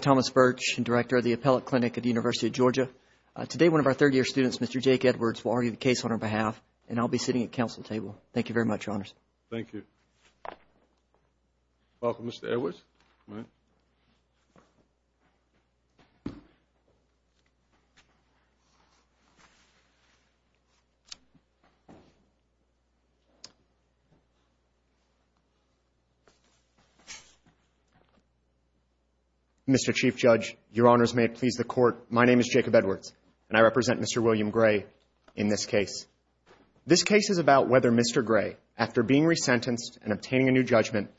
Thomas Birch, Director of the Appellate Clinic at the University of Georgia, today one of our third-year students, Mr. Jake Edwards, will argue the case on our behalf, and I'll be sitting at council table. Thank you very much, Your Honors. Thank you. Welcome, Mr. Edwards. Mr. Chief Judge, Your Honors, may it please the Court, my name is Jacob Edwards, and I represent Mr. William Gray in this case. This case is about whether Mr. Gray, after being resentenced and obtaining a new judgment,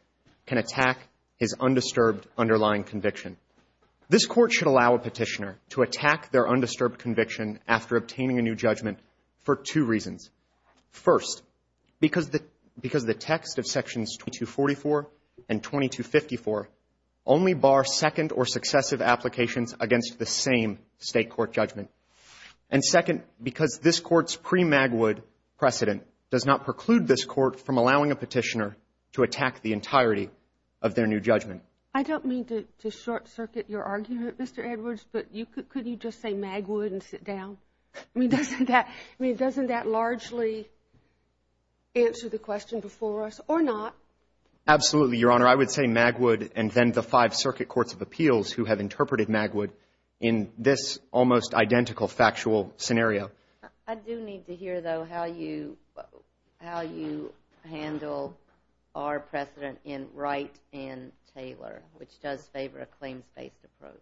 can attack his undisturbed underlying conviction. This Court should allow a petitioner to attack their undisturbed conviction after obtaining a new judgment for two reasons. First, because the text of Sections 2244 and 2254 only bar second or successive applications against the same State court judgment. And second, because this Court's pre-Magwood precedent does not preclude this Court from attacking the entirety of their new judgment. I don't mean to short-circuit your argument, Mr. Edwards, but could you just say Magwood and sit down? I mean, doesn't that largely answer the question before us, or not? Absolutely, Your Honor. I would say Magwood and then the five circuit courts of appeals who have interpreted Magwood in this almost identical factual scenario. I do need to hear, though, how you handle our precedent in Wright and Taylor, which does favor a claims-based approach.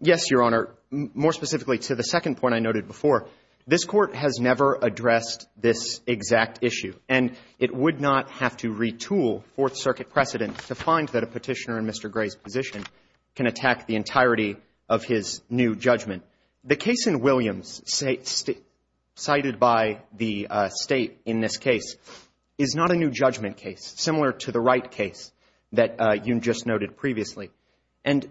Yes, Your Honor. More specifically to the second point I noted before, this Court has never addressed this exact issue, and it would not have to retool Fourth Circuit precedent to find that a petitioner in Mr. Gray's position can attack the entirety of his new judgment. The case in Williams cited by the State in this case is not a new judgment case, similar to the Wright case that you just noted previously. And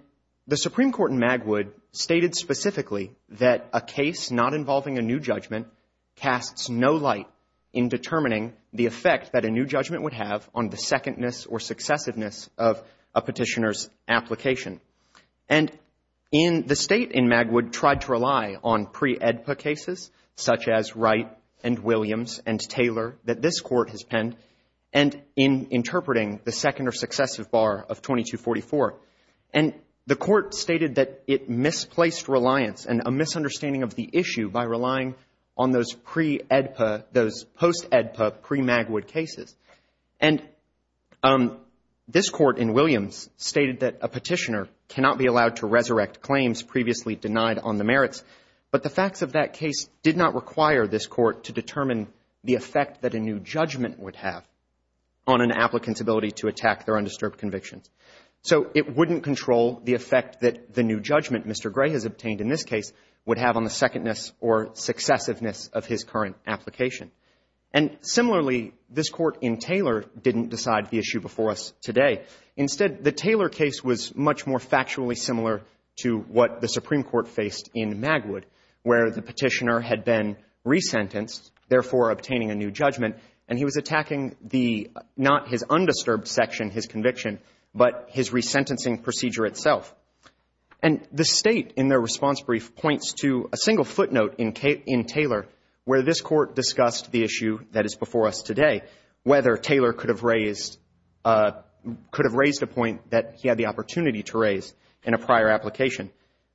the Supreme Court in Magwood stated specifically that a case not involving a new judgment casts no light in determining the effect that a new judgment would have on the secondness or successiveness of a petitioner's application. And the State in Magwood tried to rely on pre-AEDPA cases, such as Wright and Williams and Taylor, that this Court has penned, and in interpreting the second or successive bar of 2244. And the Court stated that it misplaced reliance and a misunderstanding of the issue by relying on those pre-AEDPA, those post-AEDPA, pre-Magwood cases. And this Court in Williams stated that a petitioner cannot be allowed to resurrect claims previously denied on the merits, but the facts of that case did not require this Court to determine the effect that a new judgment would have on an applicant's ability to attack their undisturbed convictions. So it wouldn't control the effect that the new judgment Mr. Gray has obtained in this case would have on the secondness or successiveness of his current application. And similarly, this Court in Taylor didn't decide the issue before us today. Instead, the Taylor case was much more factually similar to what the Supreme Court faced in Magwood, where the petitioner had been resentenced, therefore obtaining a new judgment, and he was attacking the — not his undisturbed section, his conviction, but his resentencing procedure itself. And the State, in their response brief, points to a single footnote in Taylor where this Court discussed the issue that is before us today, whether Taylor could have raised a point that he had the opportunity to raise in a prior application.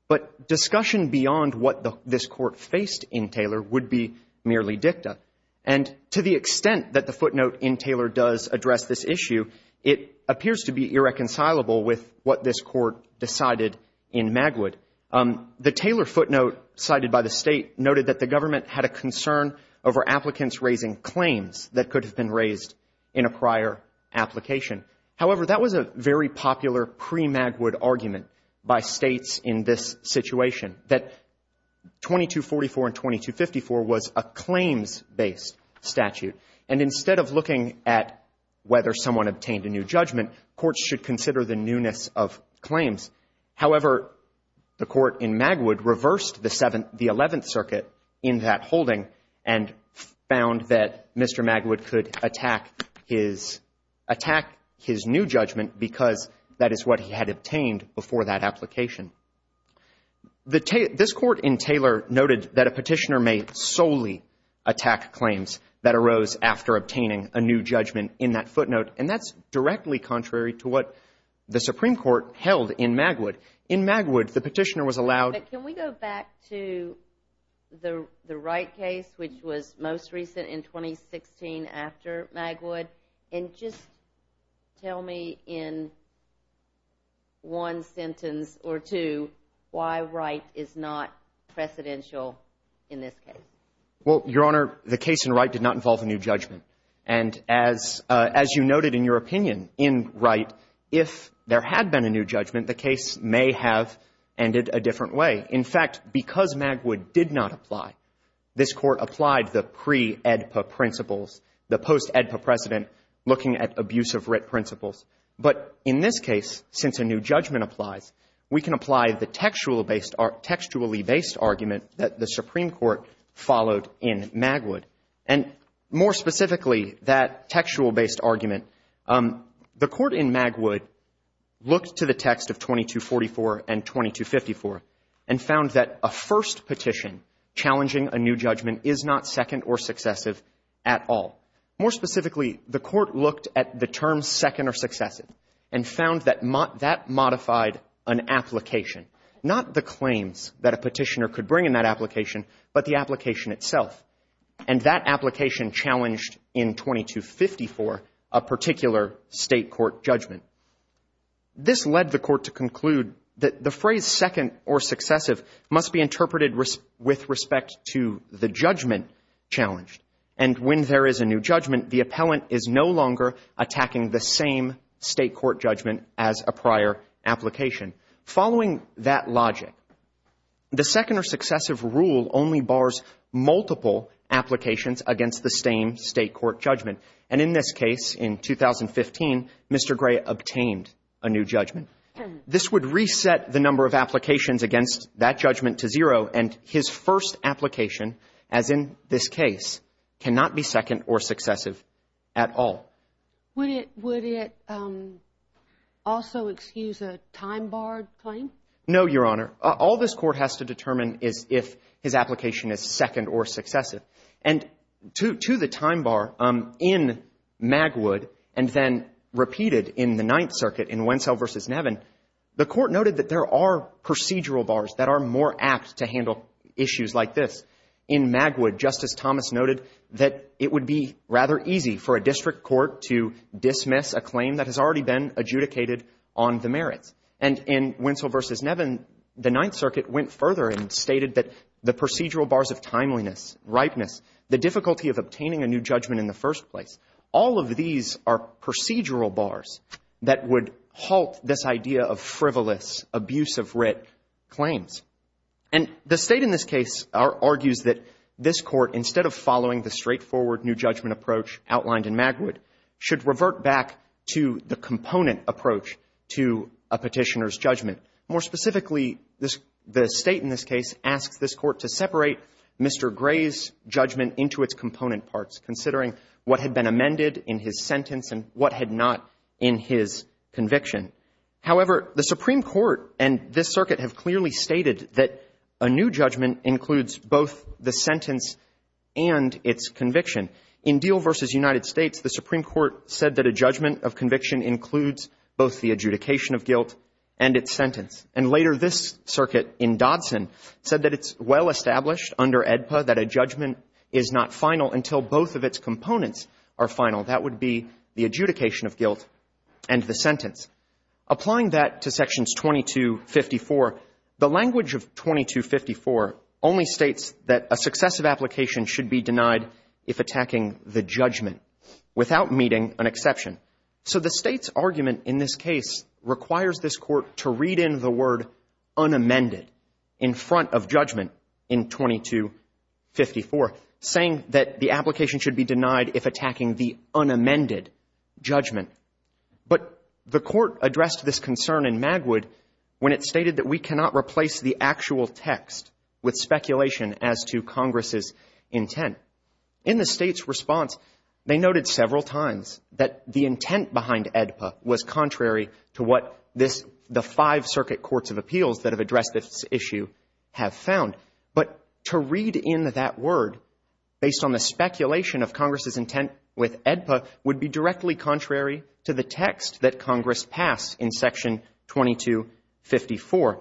But discussion beyond what this Court faced in Taylor would be merely dicta. And to the extent that the footnote in Taylor does address this issue, it appears to be irreconcilable with what this Court decided in Magwood. The Taylor footnote cited by the State noted that the government had a concern over applicants raising claims that could have been raised in a prior application. However, that was a very popular pre-Magwood argument by States in this situation, that 2244 and 2254 was a claims-based statute. And instead of looking at whether someone obtained a new judgment, courts should consider the newness of claims. However, the Court in Magwood reversed the Eleventh Circuit in that holding and found that Mr. Magwood could attack his new judgment because that is what he had obtained before that application. This Court in Taylor noted that a petitioner may solely attack claims that arose after obtaining a new judgment in that footnote, and that's directly contrary to what the Supreme Court said in Magwood. In Magwood, the petitioner was allowed… But can we go back to the Wright case, which was most recent, in 2016, after Magwood, and just tell me in one sentence or two why Wright is not precedential in this case? Well, Your Honor, the case in Wright did not involve a new judgment. And as you noted in your opinion, in Wright, if there had been a new judgment, the case may have ended a different way. In fact, because Magwood did not apply, this Court applied the pre-AEDPA principles, the post-AEDPA precedent, looking at abusive writ principles. But in this case, since a new judgment applies, we can apply the textually based argument that the Supreme Court followed in Magwood. And more specifically, that textual based argument, the Court in Magwood looked to the text of 2244 and 2254 and found that a first petition challenging a new judgment is not second or successive at all. More specifically, the Court looked at the term second or successive and found that that modified an application, not the claims that a petitioner could bring in that application, but the application itself. And that application challenged in 2254 a particular State court judgment. This led the Court to conclude that the phrase second or successive must be interpreted with respect to the judgment challenged. And when there is a new judgment, the appellant is no longer attacking the same State court judgment as a prior application. Following that logic, the second or successive rule only bars multiple applications against the same State court judgment. And in this case, in 2015, Mr. Gray obtained a new judgment. This would reset the number of applications against that judgment to zero. And his first application, as in this case, cannot be second or successive at all. Would it also excuse a time bar claim? No, Your Honor. All this Court has to determine is if his application is second or successive. And to the time bar in Magwood and then repeated in the Ninth Circuit in Wentzell v. Nevin, the Court noted that there are procedural bars that are more apt to handle issues like this. In Magwood, Justice Thomas noted that it would be rather easy for a district court to dismiss a claim that has already been adjudicated on the merits. And in Wentzell v. Nevin, the Ninth Circuit went further and stated that the procedural bars of timeliness, ripeness, the difficulty of obtaining a new judgment in the first place, all of these are procedural bars that would halt this idea of frivolous, abuse of writ claims. And the State in this case argues that this Court, instead of following the straightforward new judgment approach outlined in Magwood, should revert back to the component approach to a petitioner's judgment. More specifically, the State in this case asks this Court to separate Mr. Gray's judgment into its component parts, considering what had been amended in his sentence and what had not in his conviction. However, the Supreme Court and this Circuit have clearly stated that a new judgment includes both the sentence and its conviction. In Deal v. United States, the Supreme Court said that a judgment of conviction includes both the adjudication of guilt and its sentence. And later, this Circuit in Dodson said that it's well established under AEDPA that a judgment is not final until both of its components are final. That would be the adjudication of guilt and the sentence. Applying that to Sections 2254, the language of 2254 only states that a successive application should be denied if attacking the judgment without meeting an exception. So the State's argument in this case requires this Court to read in the word unamended in front of judgment in 2254, saying that the application should be denied if attacking the unamended judgment. But the Court addressed this concern in Magwood when it stated that we cannot replace the actual text with speculation as to Congress's intent. In the State's response, they noted several times that the intent behind AEDPA was contrary to what this the five Circuit Courts of Appeals that have addressed this issue have found. But to read in that word based on the speculation of Congress's intent with AEDPA would be directly contrary to the text that Congress passed in Section 2254.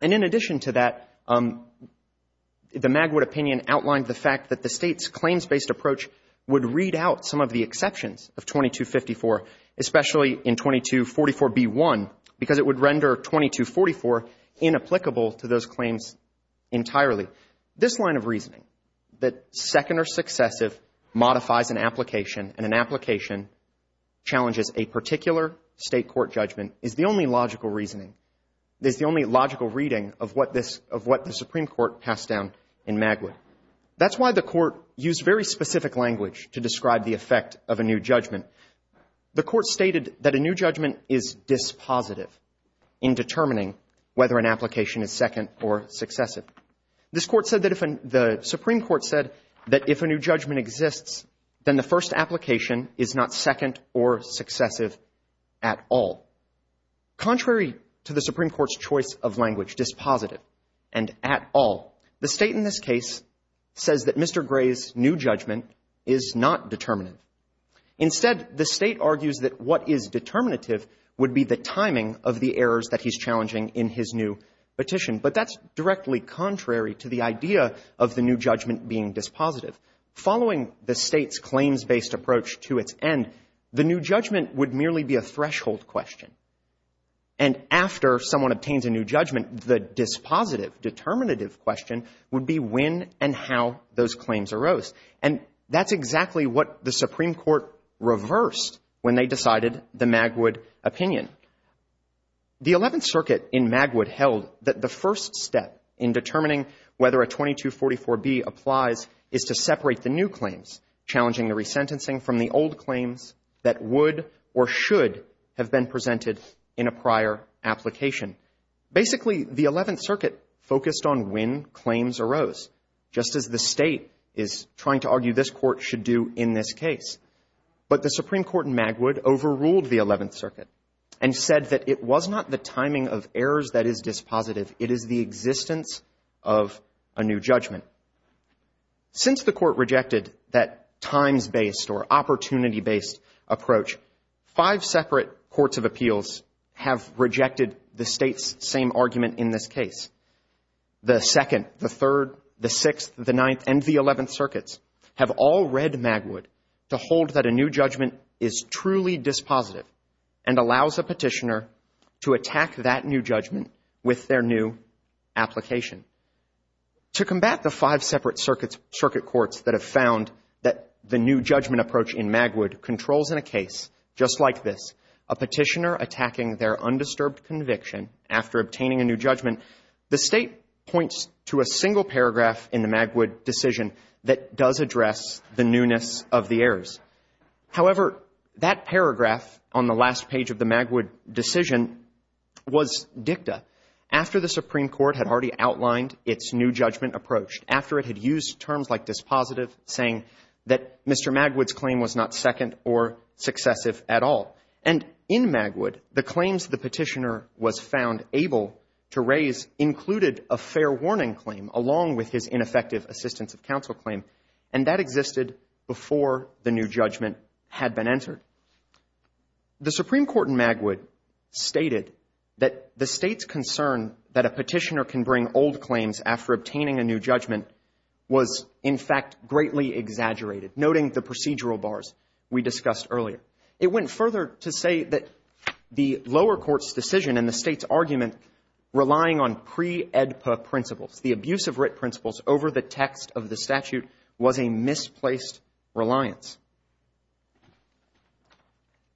And in addition to that, the Magwood opinion outlined the fact that the State's claims-based approach would read out some of the exceptions of 2254, especially in 2244b1, because it would render 2244 inapplicable to those claims entirely. This line of reasoning, that second or successive modifies an application and an application challenges a particular State court judgment, is the only logical reasoning, is the only logical reading of what the Supreme Court passed down in Magwood. That's why the Court used very specific language to describe the effect of a new judgment. The Court stated that a new judgment is dispositive in determining whether an application is second or successive. This Court said that if the Supreme Court said that if a new judgment exists, then the first application is not second or successive at all. Contrary to the Supreme Court's choice of language, dispositive and at all, the State in this case says that Mr. Gray's new judgment is not determinant. Instead, the State argues that what is determinative would be the timing of the errors that he's challenging in his new petition. But that's directly contrary to the idea of the new judgment being dispositive. Following the State's claims-based approach to its end, the new judgment would merely be a threshold question. And after someone obtains a new judgment, the dispositive, determinative question would be when and how those claims arose. And that's exactly what the Supreme Court reversed when they decided the Magwood opinion. The Eleventh Circuit in Magwood held that the first step in determining whether a 2244B applies is to separate the new claims, challenging the resentencing from the old claims that would or should have been presented in a prior application. Basically, the Eleventh Circuit focused on when claims arose, just as the State is trying to argue this Court should do in this case. But the Supreme Court in Magwood overruled the Eleventh Circuit and said that it was not the timing of errors that is dispositive. It is the existence of a new judgment. Since the Court rejected that times-based or opportunity-based approach, five separate courts of appeals have rejected the State's same argument in this case. The Second, the Third, the Sixth, the Ninth, and the Eleventh Circuits have all read Magwood to hold that a new judgment is truly dispositive and allows a petitioner to attack that new judgment with their new application. To combat the five separate circuit courts that have found that the new judgment approach in Magwood controls in a case just like this, a petitioner attacking their undisturbed conviction after obtaining a new judgment, the State points to a single paragraph in the Magwood decision that does address the newness of the errors. However, that paragraph on the last page of the Magwood decision was dicta. After the Supreme Court had already outlined its new judgment approach, after it had used terms like dispositive, saying that Mr. Magwood's claim was not second or successive at all. And in Magwood, the claims the petitioner was found able to raise included a fair warning claim along with his ineffective assistance of counsel claim. And that existed before the new judgment had been entered. The Supreme Court in Magwood stated that the State's concern that a petitioner can bring old claims after obtaining a new judgment was, in fact, greatly exaggerated, noting the procedural bars we discussed earlier. It went further to say that the lower court's decision and the State's argument relying on pre-AEDPA principles, the abuse of writ principles over the text of the statute, was a misplaced reliance.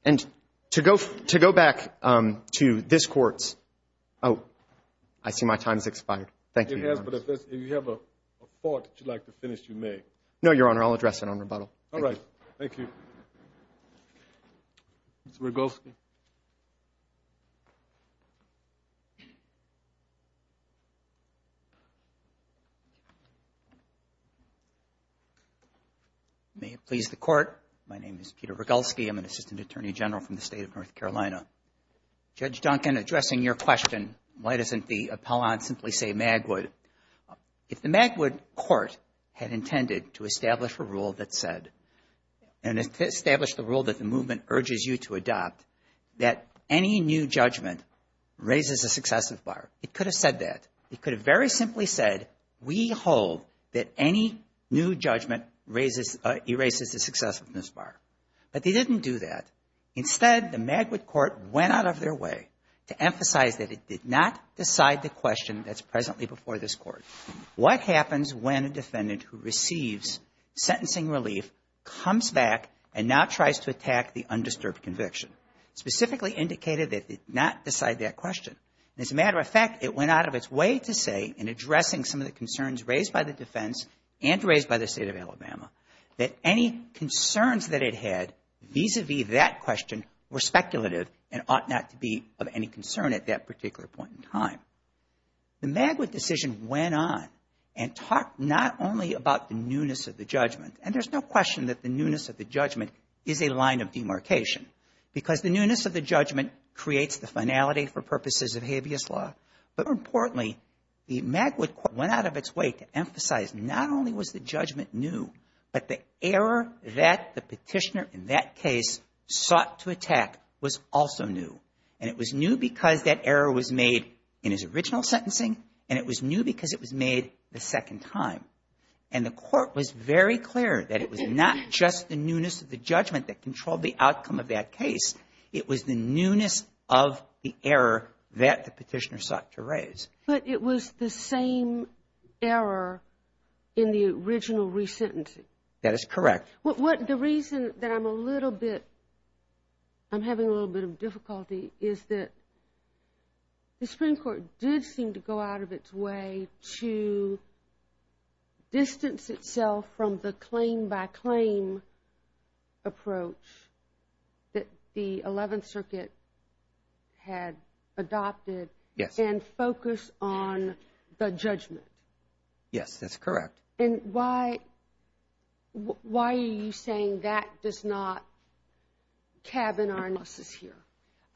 And to go back to this Court's, oh, I see my time's expired. Thank you, Your Honor. It has, but if you have a thought that you'd like to finish, you may. No, Your Honor. I'll address it on rebuttal. All right. Thank you. Mr. Rogolsky. May it please the Court, my name is Peter Rogolsky, I'm an Assistant Attorney General from the State of North Carolina. Judge Duncan, addressing your question, why doesn't the appellant simply say Magwood, if the Magwood Court had intended to establish a rule that said, and to establish the rule that the movement urges you to adopt, that any new judgment raises a successiveness bar? It could have said that. It could have very simply said, we hold that any new judgment raises, erases a successiveness bar. But they didn't do that. Instead, the Magwood Court went out of their way to emphasize that it did not decide the question that's presently before this Court. What happens when a defendant who receives sentencing relief comes back and now tries to attack the undisturbed conviction? Specifically indicated that they did not decide that question. As a matter of fact, it went out of its way to say, in addressing some of the concerns raised by the defense and raised by the State of Alabama, that any concerns that it had vis-à-vis that question were speculative and ought not to be of any concern at that particular point in time. The Magwood decision went on and talked not only about the newness of the judgment. And there's no question that the newness of the judgment is a line of demarcation. Because the newness of the judgment creates the finality for purposes of habeas law. But more importantly, the Magwood Court went out of its way to emphasize not only was the judgment new, but the error that the petitioner in that case sought to attack was also new. And it was new because that error was made in his original sentencing, and it was new because it was made the second time. And the Court was very clear that it was not just the newness of the judgment that controlled the outcome of that case. It was the newness of the error that the petitioner sought to raise. But it was the same error in the original resentencing. That is correct. What the reason that I'm a little bit, I'm having a little bit of difficulty is that the Supreme Court did seem to go out of its way to distance itself from the claim-by-claim approach that the Eleventh Circuit had adopted and focus on the judgment. Yes, that's correct. And why are you saying that does not cabin our analysis here?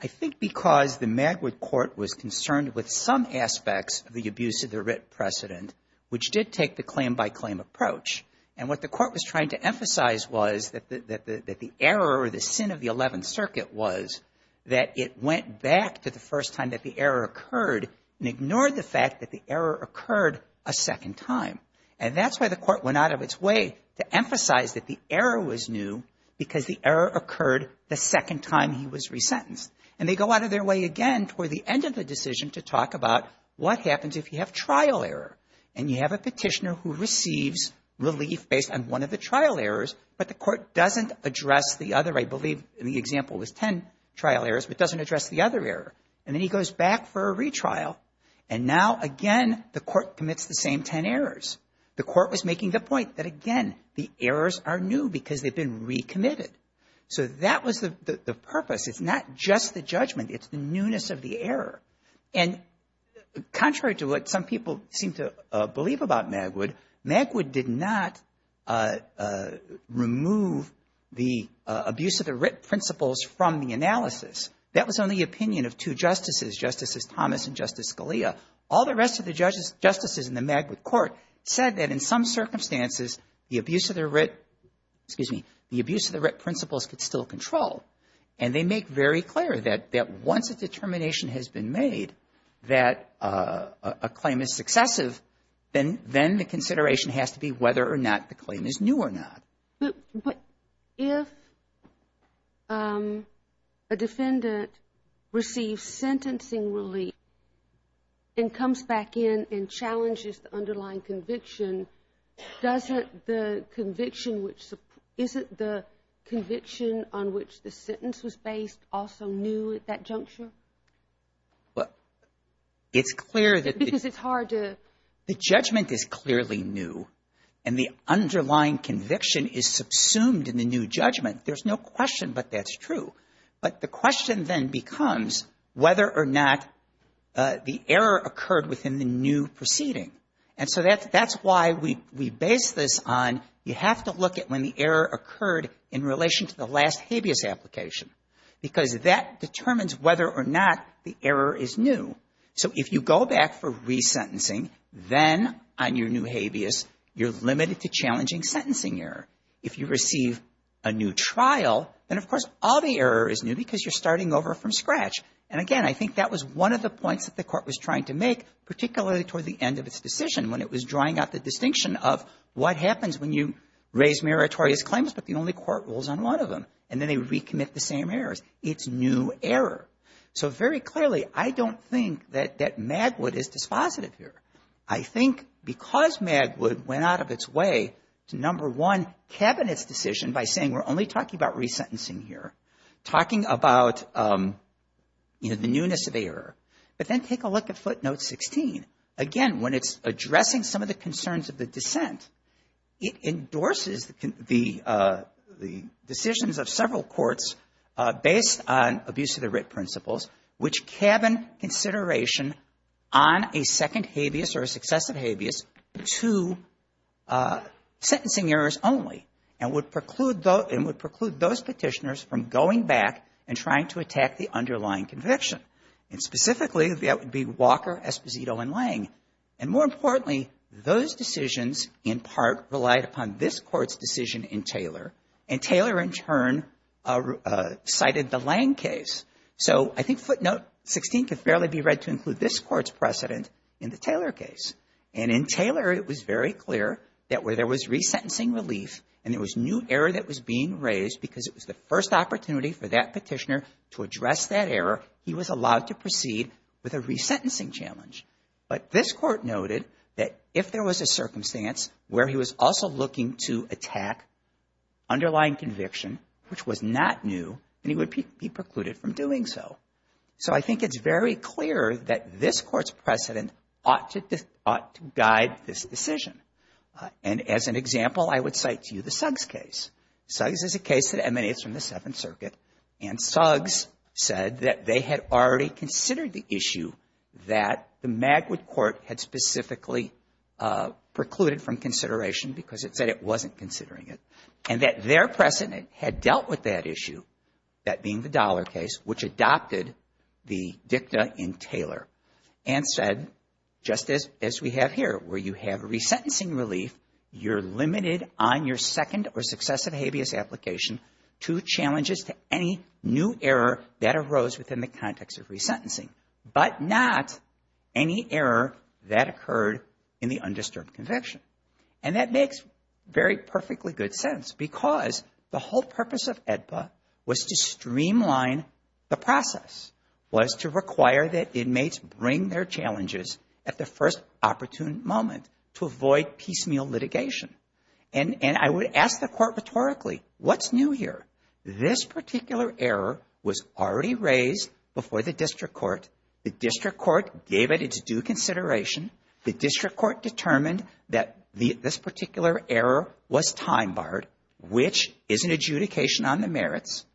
I think because the Magwood Court was concerned with some aspects of the abuse of the writ precedent, which did take the claim-by-claim approach. And what the Court was trying to emphasize was that the error or the sin of the Eleventh Circuit was that it went back to the first time that the error occurred and ignored the fact that the error occurred a second time. And that's why the Court went out of its way to emphasize that the error was new because the error occurred the second time he was resentenced. And they go out of their way again toward the end of the decision to talk about what happens if you have trial error and you have a petitioner who receives relief based on one of the trial errors, but the Court doesn't address the other, I believe in the example was 10 trial errors, but doesn't address the other error. And then he goes back for a retrial. And now, again, the Court commits the same 10 errors. The Court was making the point that, again, the errors are new because they've been recommitted. So that was the purpose. It's not just the judgment. It's the newness of the error. And contrary to what some people seem to believe about Magwood, Magwood did not remove the abuse of the writ principles from the analysis. That was on the opinion of two justices, Justices Thomas and Justice Scalia. All the rest of the justices in the Magwood Court said that in some circumstances, the abuse of the writ, excuse me, the abuse of the writ principles could still control. And they make very clear that once a determination has been made that a claim is successive, then the consideration has to be whether or not the claim is new or not. But if a defendant receives sentencing relief and comes back in and challenges the underlying conviction, doesn't the conviction which – isn't the conviction on which the sentence was based also new at that juncture? Well, it's clear that the – Because it's hard to – The judgment is clearly new and the underlying conviction is subsumed in the new judgment. There's no question but that's true. But the question then becomes whether or not the error occurred within the new proceeding. And so that's why we base this on you have to look at when the error occurred in relation to the last habeas application. Because that determines whether or not the error is new. So if you go back for resentencing, then on your new habeas, you're limited to challenging sentencing error. If you receive a new trial, then of course all the error is new because you're starting over from scratch. And again, I think that was one of the points that the Court was trying to make, particularly toward the end of its decision when it was drawing out the distinction of what happens when you raise meritorious claims but the only court rules on one of them. And then they recommit the same errors. It's new error. So very clearly, I don't think that Magwood is dispositive here. I think because Magwood went out of its way to number one cabinet's decision by saying we're only talking about resentencing here, talking about, you know, the newness of error. But then take a look at footnote 16. Again, when it's addressing some of the concerns of the dissent, it endorses the decisions of several courts based on abuse of the writ principles which cabin consideration on a second habeas or a successive habeas to sentencing errors only and would preclude those Petitioners from going back and trying to attack the underlying conviction. And specifically, that would be Walker, Esposito, and Lang. And more importantly, those decisions in part relied upon this Court's decision in Taylor. And Taylor, in turn, cited the Lang case. So I think footnote 16 could fairly be read to include this Court's precedent in the Taylor case. And in Taylor, it was very clear that where there was resentencing relief and there was new error that was being raised because it was the first opportunity for that Petitioner to address that error, he was allowed to proceed with a resentencing challenge. But this Court noted that if there was a circumstance where he was also looking to attack underlying conviction which was not new, then he would be precluded from doing so. So I think it's very clear that this Court's precedent ought to guide this decision. And as an example, I would cite to you the Suggs case. Suggs is a case that emanates from the Seventh Circuit. And Suggs said that they had already considered the issue that the Magwood Court had specifically precluded from consideration because it said it wasn't considering it. And that their precedent had dealt with that issue, that being the Dollar case, which adopted the dicta in Taylor. And said, just as we have here, where you have resentencing relief, you're limited on your second or successive habeas application to challenges to any new error that arose within the context of resentencing. But not any error that occurred in the undisturbed conviction. And that makes very perfectly good sense. Because the whole purpose of AEDPA was to streamline the process. Was to require that inmates bring their challenges at the first opportune moment to avoid piecemeal litigation. And I would ask the Court rhetorically, what's new here? This particular error was already raised before the District Court. The District Court gave it its due consideration. The District Court determined that this particular error was time barred. Which is an adjudication on the merits.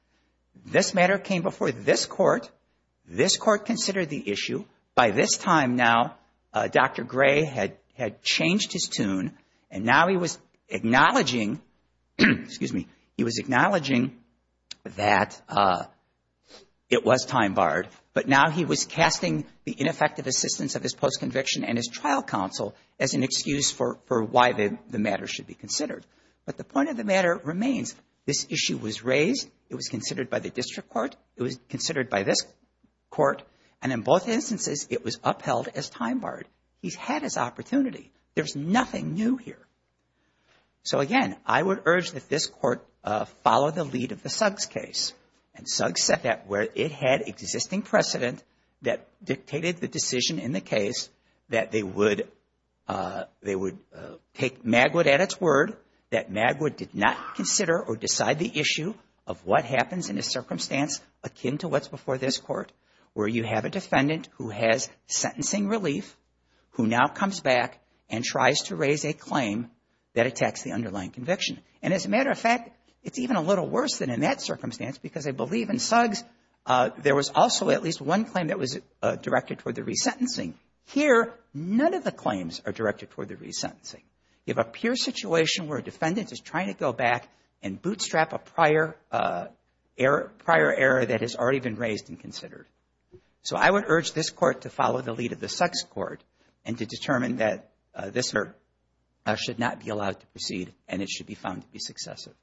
This matter came before this Court. This Court considered the issue. By this time now, Dr. Gray had changed his tune. And now he was acknowledging that it was time barred. But now he was casting the ineffective assistance of his post-conviction and his trial counsel as an excuse for why the matter should be considered. But the point of the matter remains, this issue was raised. It was considered by the District Court. It was considered by this Court. And in both instances, it was upheld as time barred. He's had his opportunity. There's nothing new here. So again, I would urge that this Court follow the lead of the Suggs case. And Suggs set that where it had existing precedent that dictated the decision in the case that they would take Magwood at its word. That Magwood did not consider or decide the issue of what happens in a circumstance akin to what's before this Court. Where you have a defendant who has sentencing relief, who now comes back and tries to raise a claim that attacks the underlying conviction. And as a matter of fact, it's even a little worse than in that circumstance because I believe in Suggs, there was also at least one claim that was directed toward the resentencing. Here, none of the claims are directed toward the resentencing. You have a pure situation where a defendant is trying to go back and bootstrap a prior error that has already been raised and considered. So I would urge this Court to follow the lead of the Suggs Court and to determine that this should not be allowed to proceed and it should be found to be successive.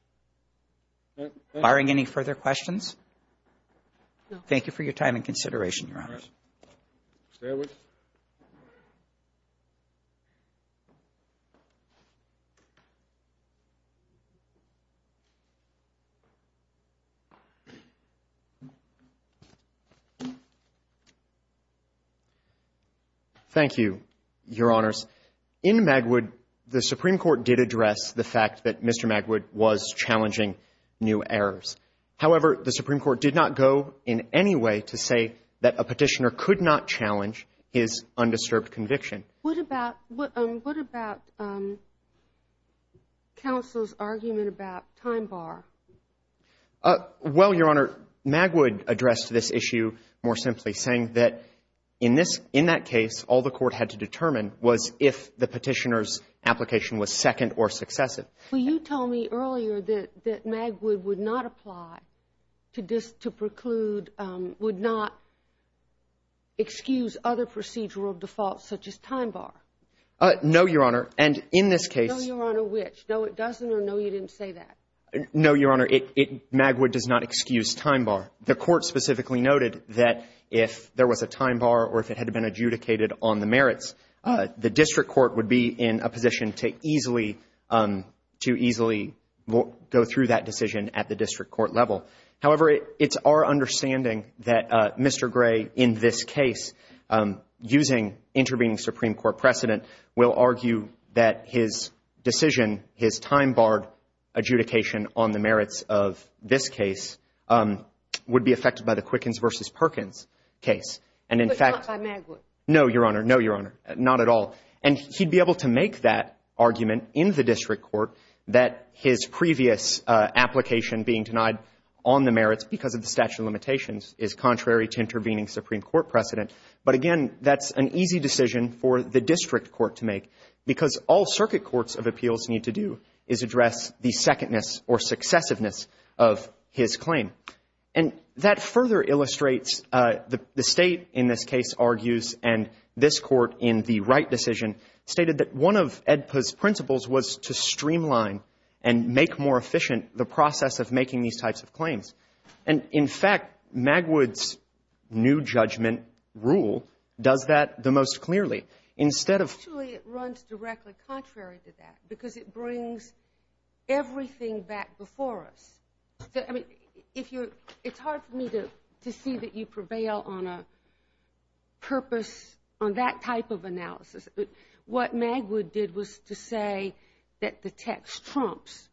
Barring any further questions, thank you for your time and consideration, Your Honors. Stay with us. Thank you, Your Honors. In Magwood, the Supreme Court did address the fact that Mr. Magwood was challenging new errors. However, the Supreme Court did not go in any way to say that a petitioner could not challenge his undisturbed conviction. What about — what about counsel's argument about time bar? Well, Your Honor, Magwood addressed this issue more simply, saying that in this — in that case, all the Court had to determine was if the petitioner's application was second or successive. Well, you told me earlier that — that Magwood would not apply to preclude — would not excuse other procedural defaults such as time bar. No, Your Honor, and in this case — No, Your Honor, which? No, it doesn't, or no, you didn't say that? No, Your Honor, it — Magwood does not excuse time bar. The Court specifically noted that if there was a time bar or if it had been adjudicated on the merits, the district court would be in a position to easily — to easily go through that decision at the district court level. However, it's our understanding that Mr. Gray, in this case, using intervening Supreme Court precedent, will argue that his decision, his time barred adjudication on the merits of this case would be affected by the Quickens v. Perkins case. And in fact — But not by Magwood. No, Your Honor, no, Your Honor, not at all. And he'd be able to make that argument in the district court that his previous application being denied on the merits because of the statute of limitations is contrary to intervening Supreme Court precedent. But again, that's an easy decision for the district court to make because all circuit courts of appeals need to do is address the secondness or successiveness of his claim. And that further illustrates — the State, in this case, argues, and this Court, in the Wright decision, stated that one of AEDPA's principles was to streamline and make more efficient the process of making these types of claims. And in fact, Magwood's new judgment rule does that the most clearly. Instead of — Actually, it runs directly contrary to that because it brings everything back before us. I mean, if you're — it's hard for me to see that you prevail on a purpose on that type of analysis. What Magwood did was to say that the text trumps.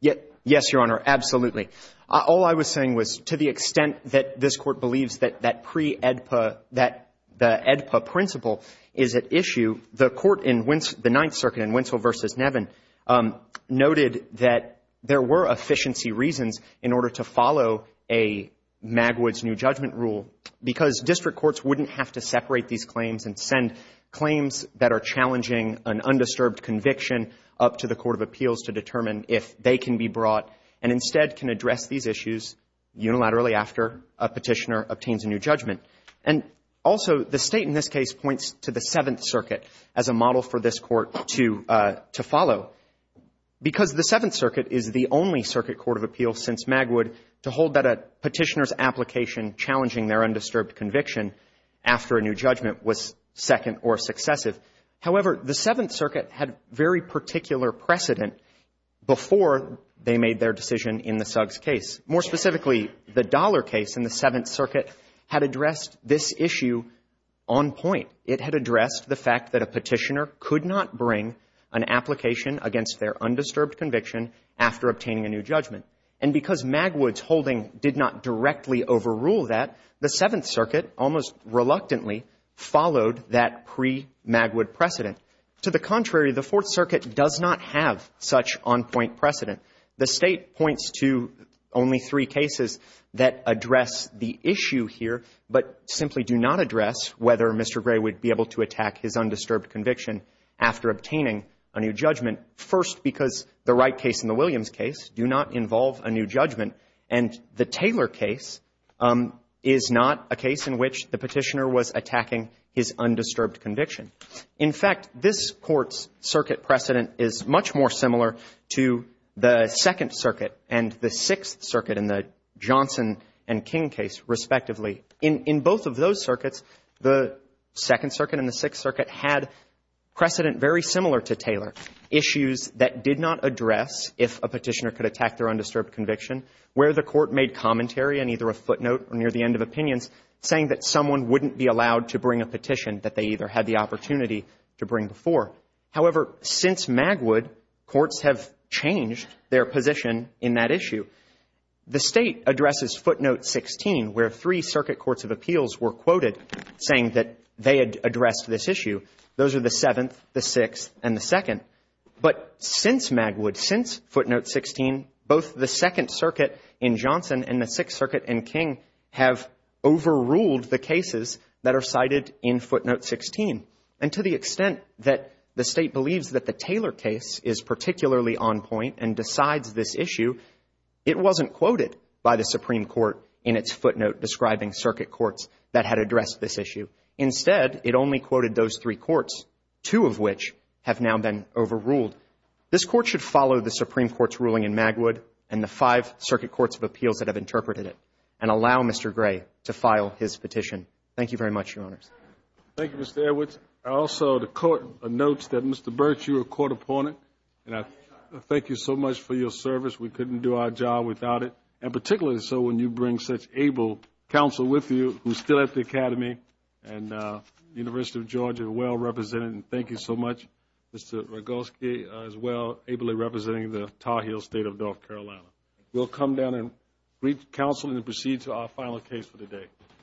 Yes, Your Honor, absolutely. All I was saying was to the extent that this Court believes that that pre-AEDPA — that the AEDPA principle is at issue, the Court in the Ninth Circuit in Winslow v. Nevin noted that there were efficiency reasons in order to follow a Magwood's new judgment rule because district courts wouldn't have to separate these claims and send claims that are challenging an undisturbed conviction up to the court of appeals to determine if they can be brought and instead can address these issues unilaterally after a petitioner obtains a new judgment. And also, the State, in this case, points to the Seventh Circuit as a model for this because the Seventh Circuit is the only circuit court of appeals since Magwood to hold that a petitioner's application challenging their undisturbed conviction after a new judgment was second or successive. However, the Seventh Circuit had very particular precedent before they made their decision in the Suggs case. More specifically, the Dollar case in the Seventh Circuit had addressed this issue on point. It had addressed the fact that a petitioner could not bring an application against their undisturbed conviction after obtaining a new judgment. And because Magwood's holding did not directly overrule that, the Seventh Circuit almost reluctantly followed that pre-Magwood precedent. To the contrary, the Fourth Circuit does not have such on-point precedent. The State points to only three cases that address the issue here but simply do not address whether Mr. Gray would be able to attack his undisturbed conviction after obtaining a new judgment, first because the Wright case and the Williams case do not involve a new judgment. And the Taylor case is not a case in which the petitioner was attacking his undisturbed conviction. In fact, this Court's circuit precedent is much more similar to the Second Circuit and the Sixth Circuit in the Johnson and King case, respectively. In both of those circuits, the Second Circuit and the Sixth Circuit had precedent very similar to Taylor, issues that did not address if a petitioner could attack their undisturbed conviction, where the Court made commentary in either a footnote or near the end of opinions saying that someone wouldn't be allowed to bring a petition that they either had the opportunity to bring before. However, since Magwood, courts have changed their position in that issue. The State addresses footnote 16, where three circuit courts of appeals were quoted saying that they had addressed this issue. Those are the Seventh, the Sixth, and the Second. But since Magwood, since footnote 16, both the Second Circuit in Johnson and the Sixth Circuit in King have overruled the cases that are cited in footnote 16. And to the extent that the State believes that the Taylor case is particularly on point and decides this issue, it wasn't quoted by the Supreme Court in its footnote describing circuit courts that had addressed this issue. Instead, it only quoted those three courts, two of which have now been overruled. This Court should follow the Supreme Court's ruling in Magwood and the five circuit courts of appeals that have interpreted it and allow Mr. Gray to file his petition. Thank you very much, Your Honors. Thank you, Mr. Edwards. Also, the Court notes that Mr. Burch, you are a court opponent. And I thank you so much for your service. We couldn't do our job without it. And particularly so when you bring such able counsel with you, who's still at the Academy and University of Georgia, well represented. And thank you so much, Mr. Rogulski, as well, ably representing the Tar Heel State of North Carolina. We'll come down and greet counsel and proceed to our final case for the day.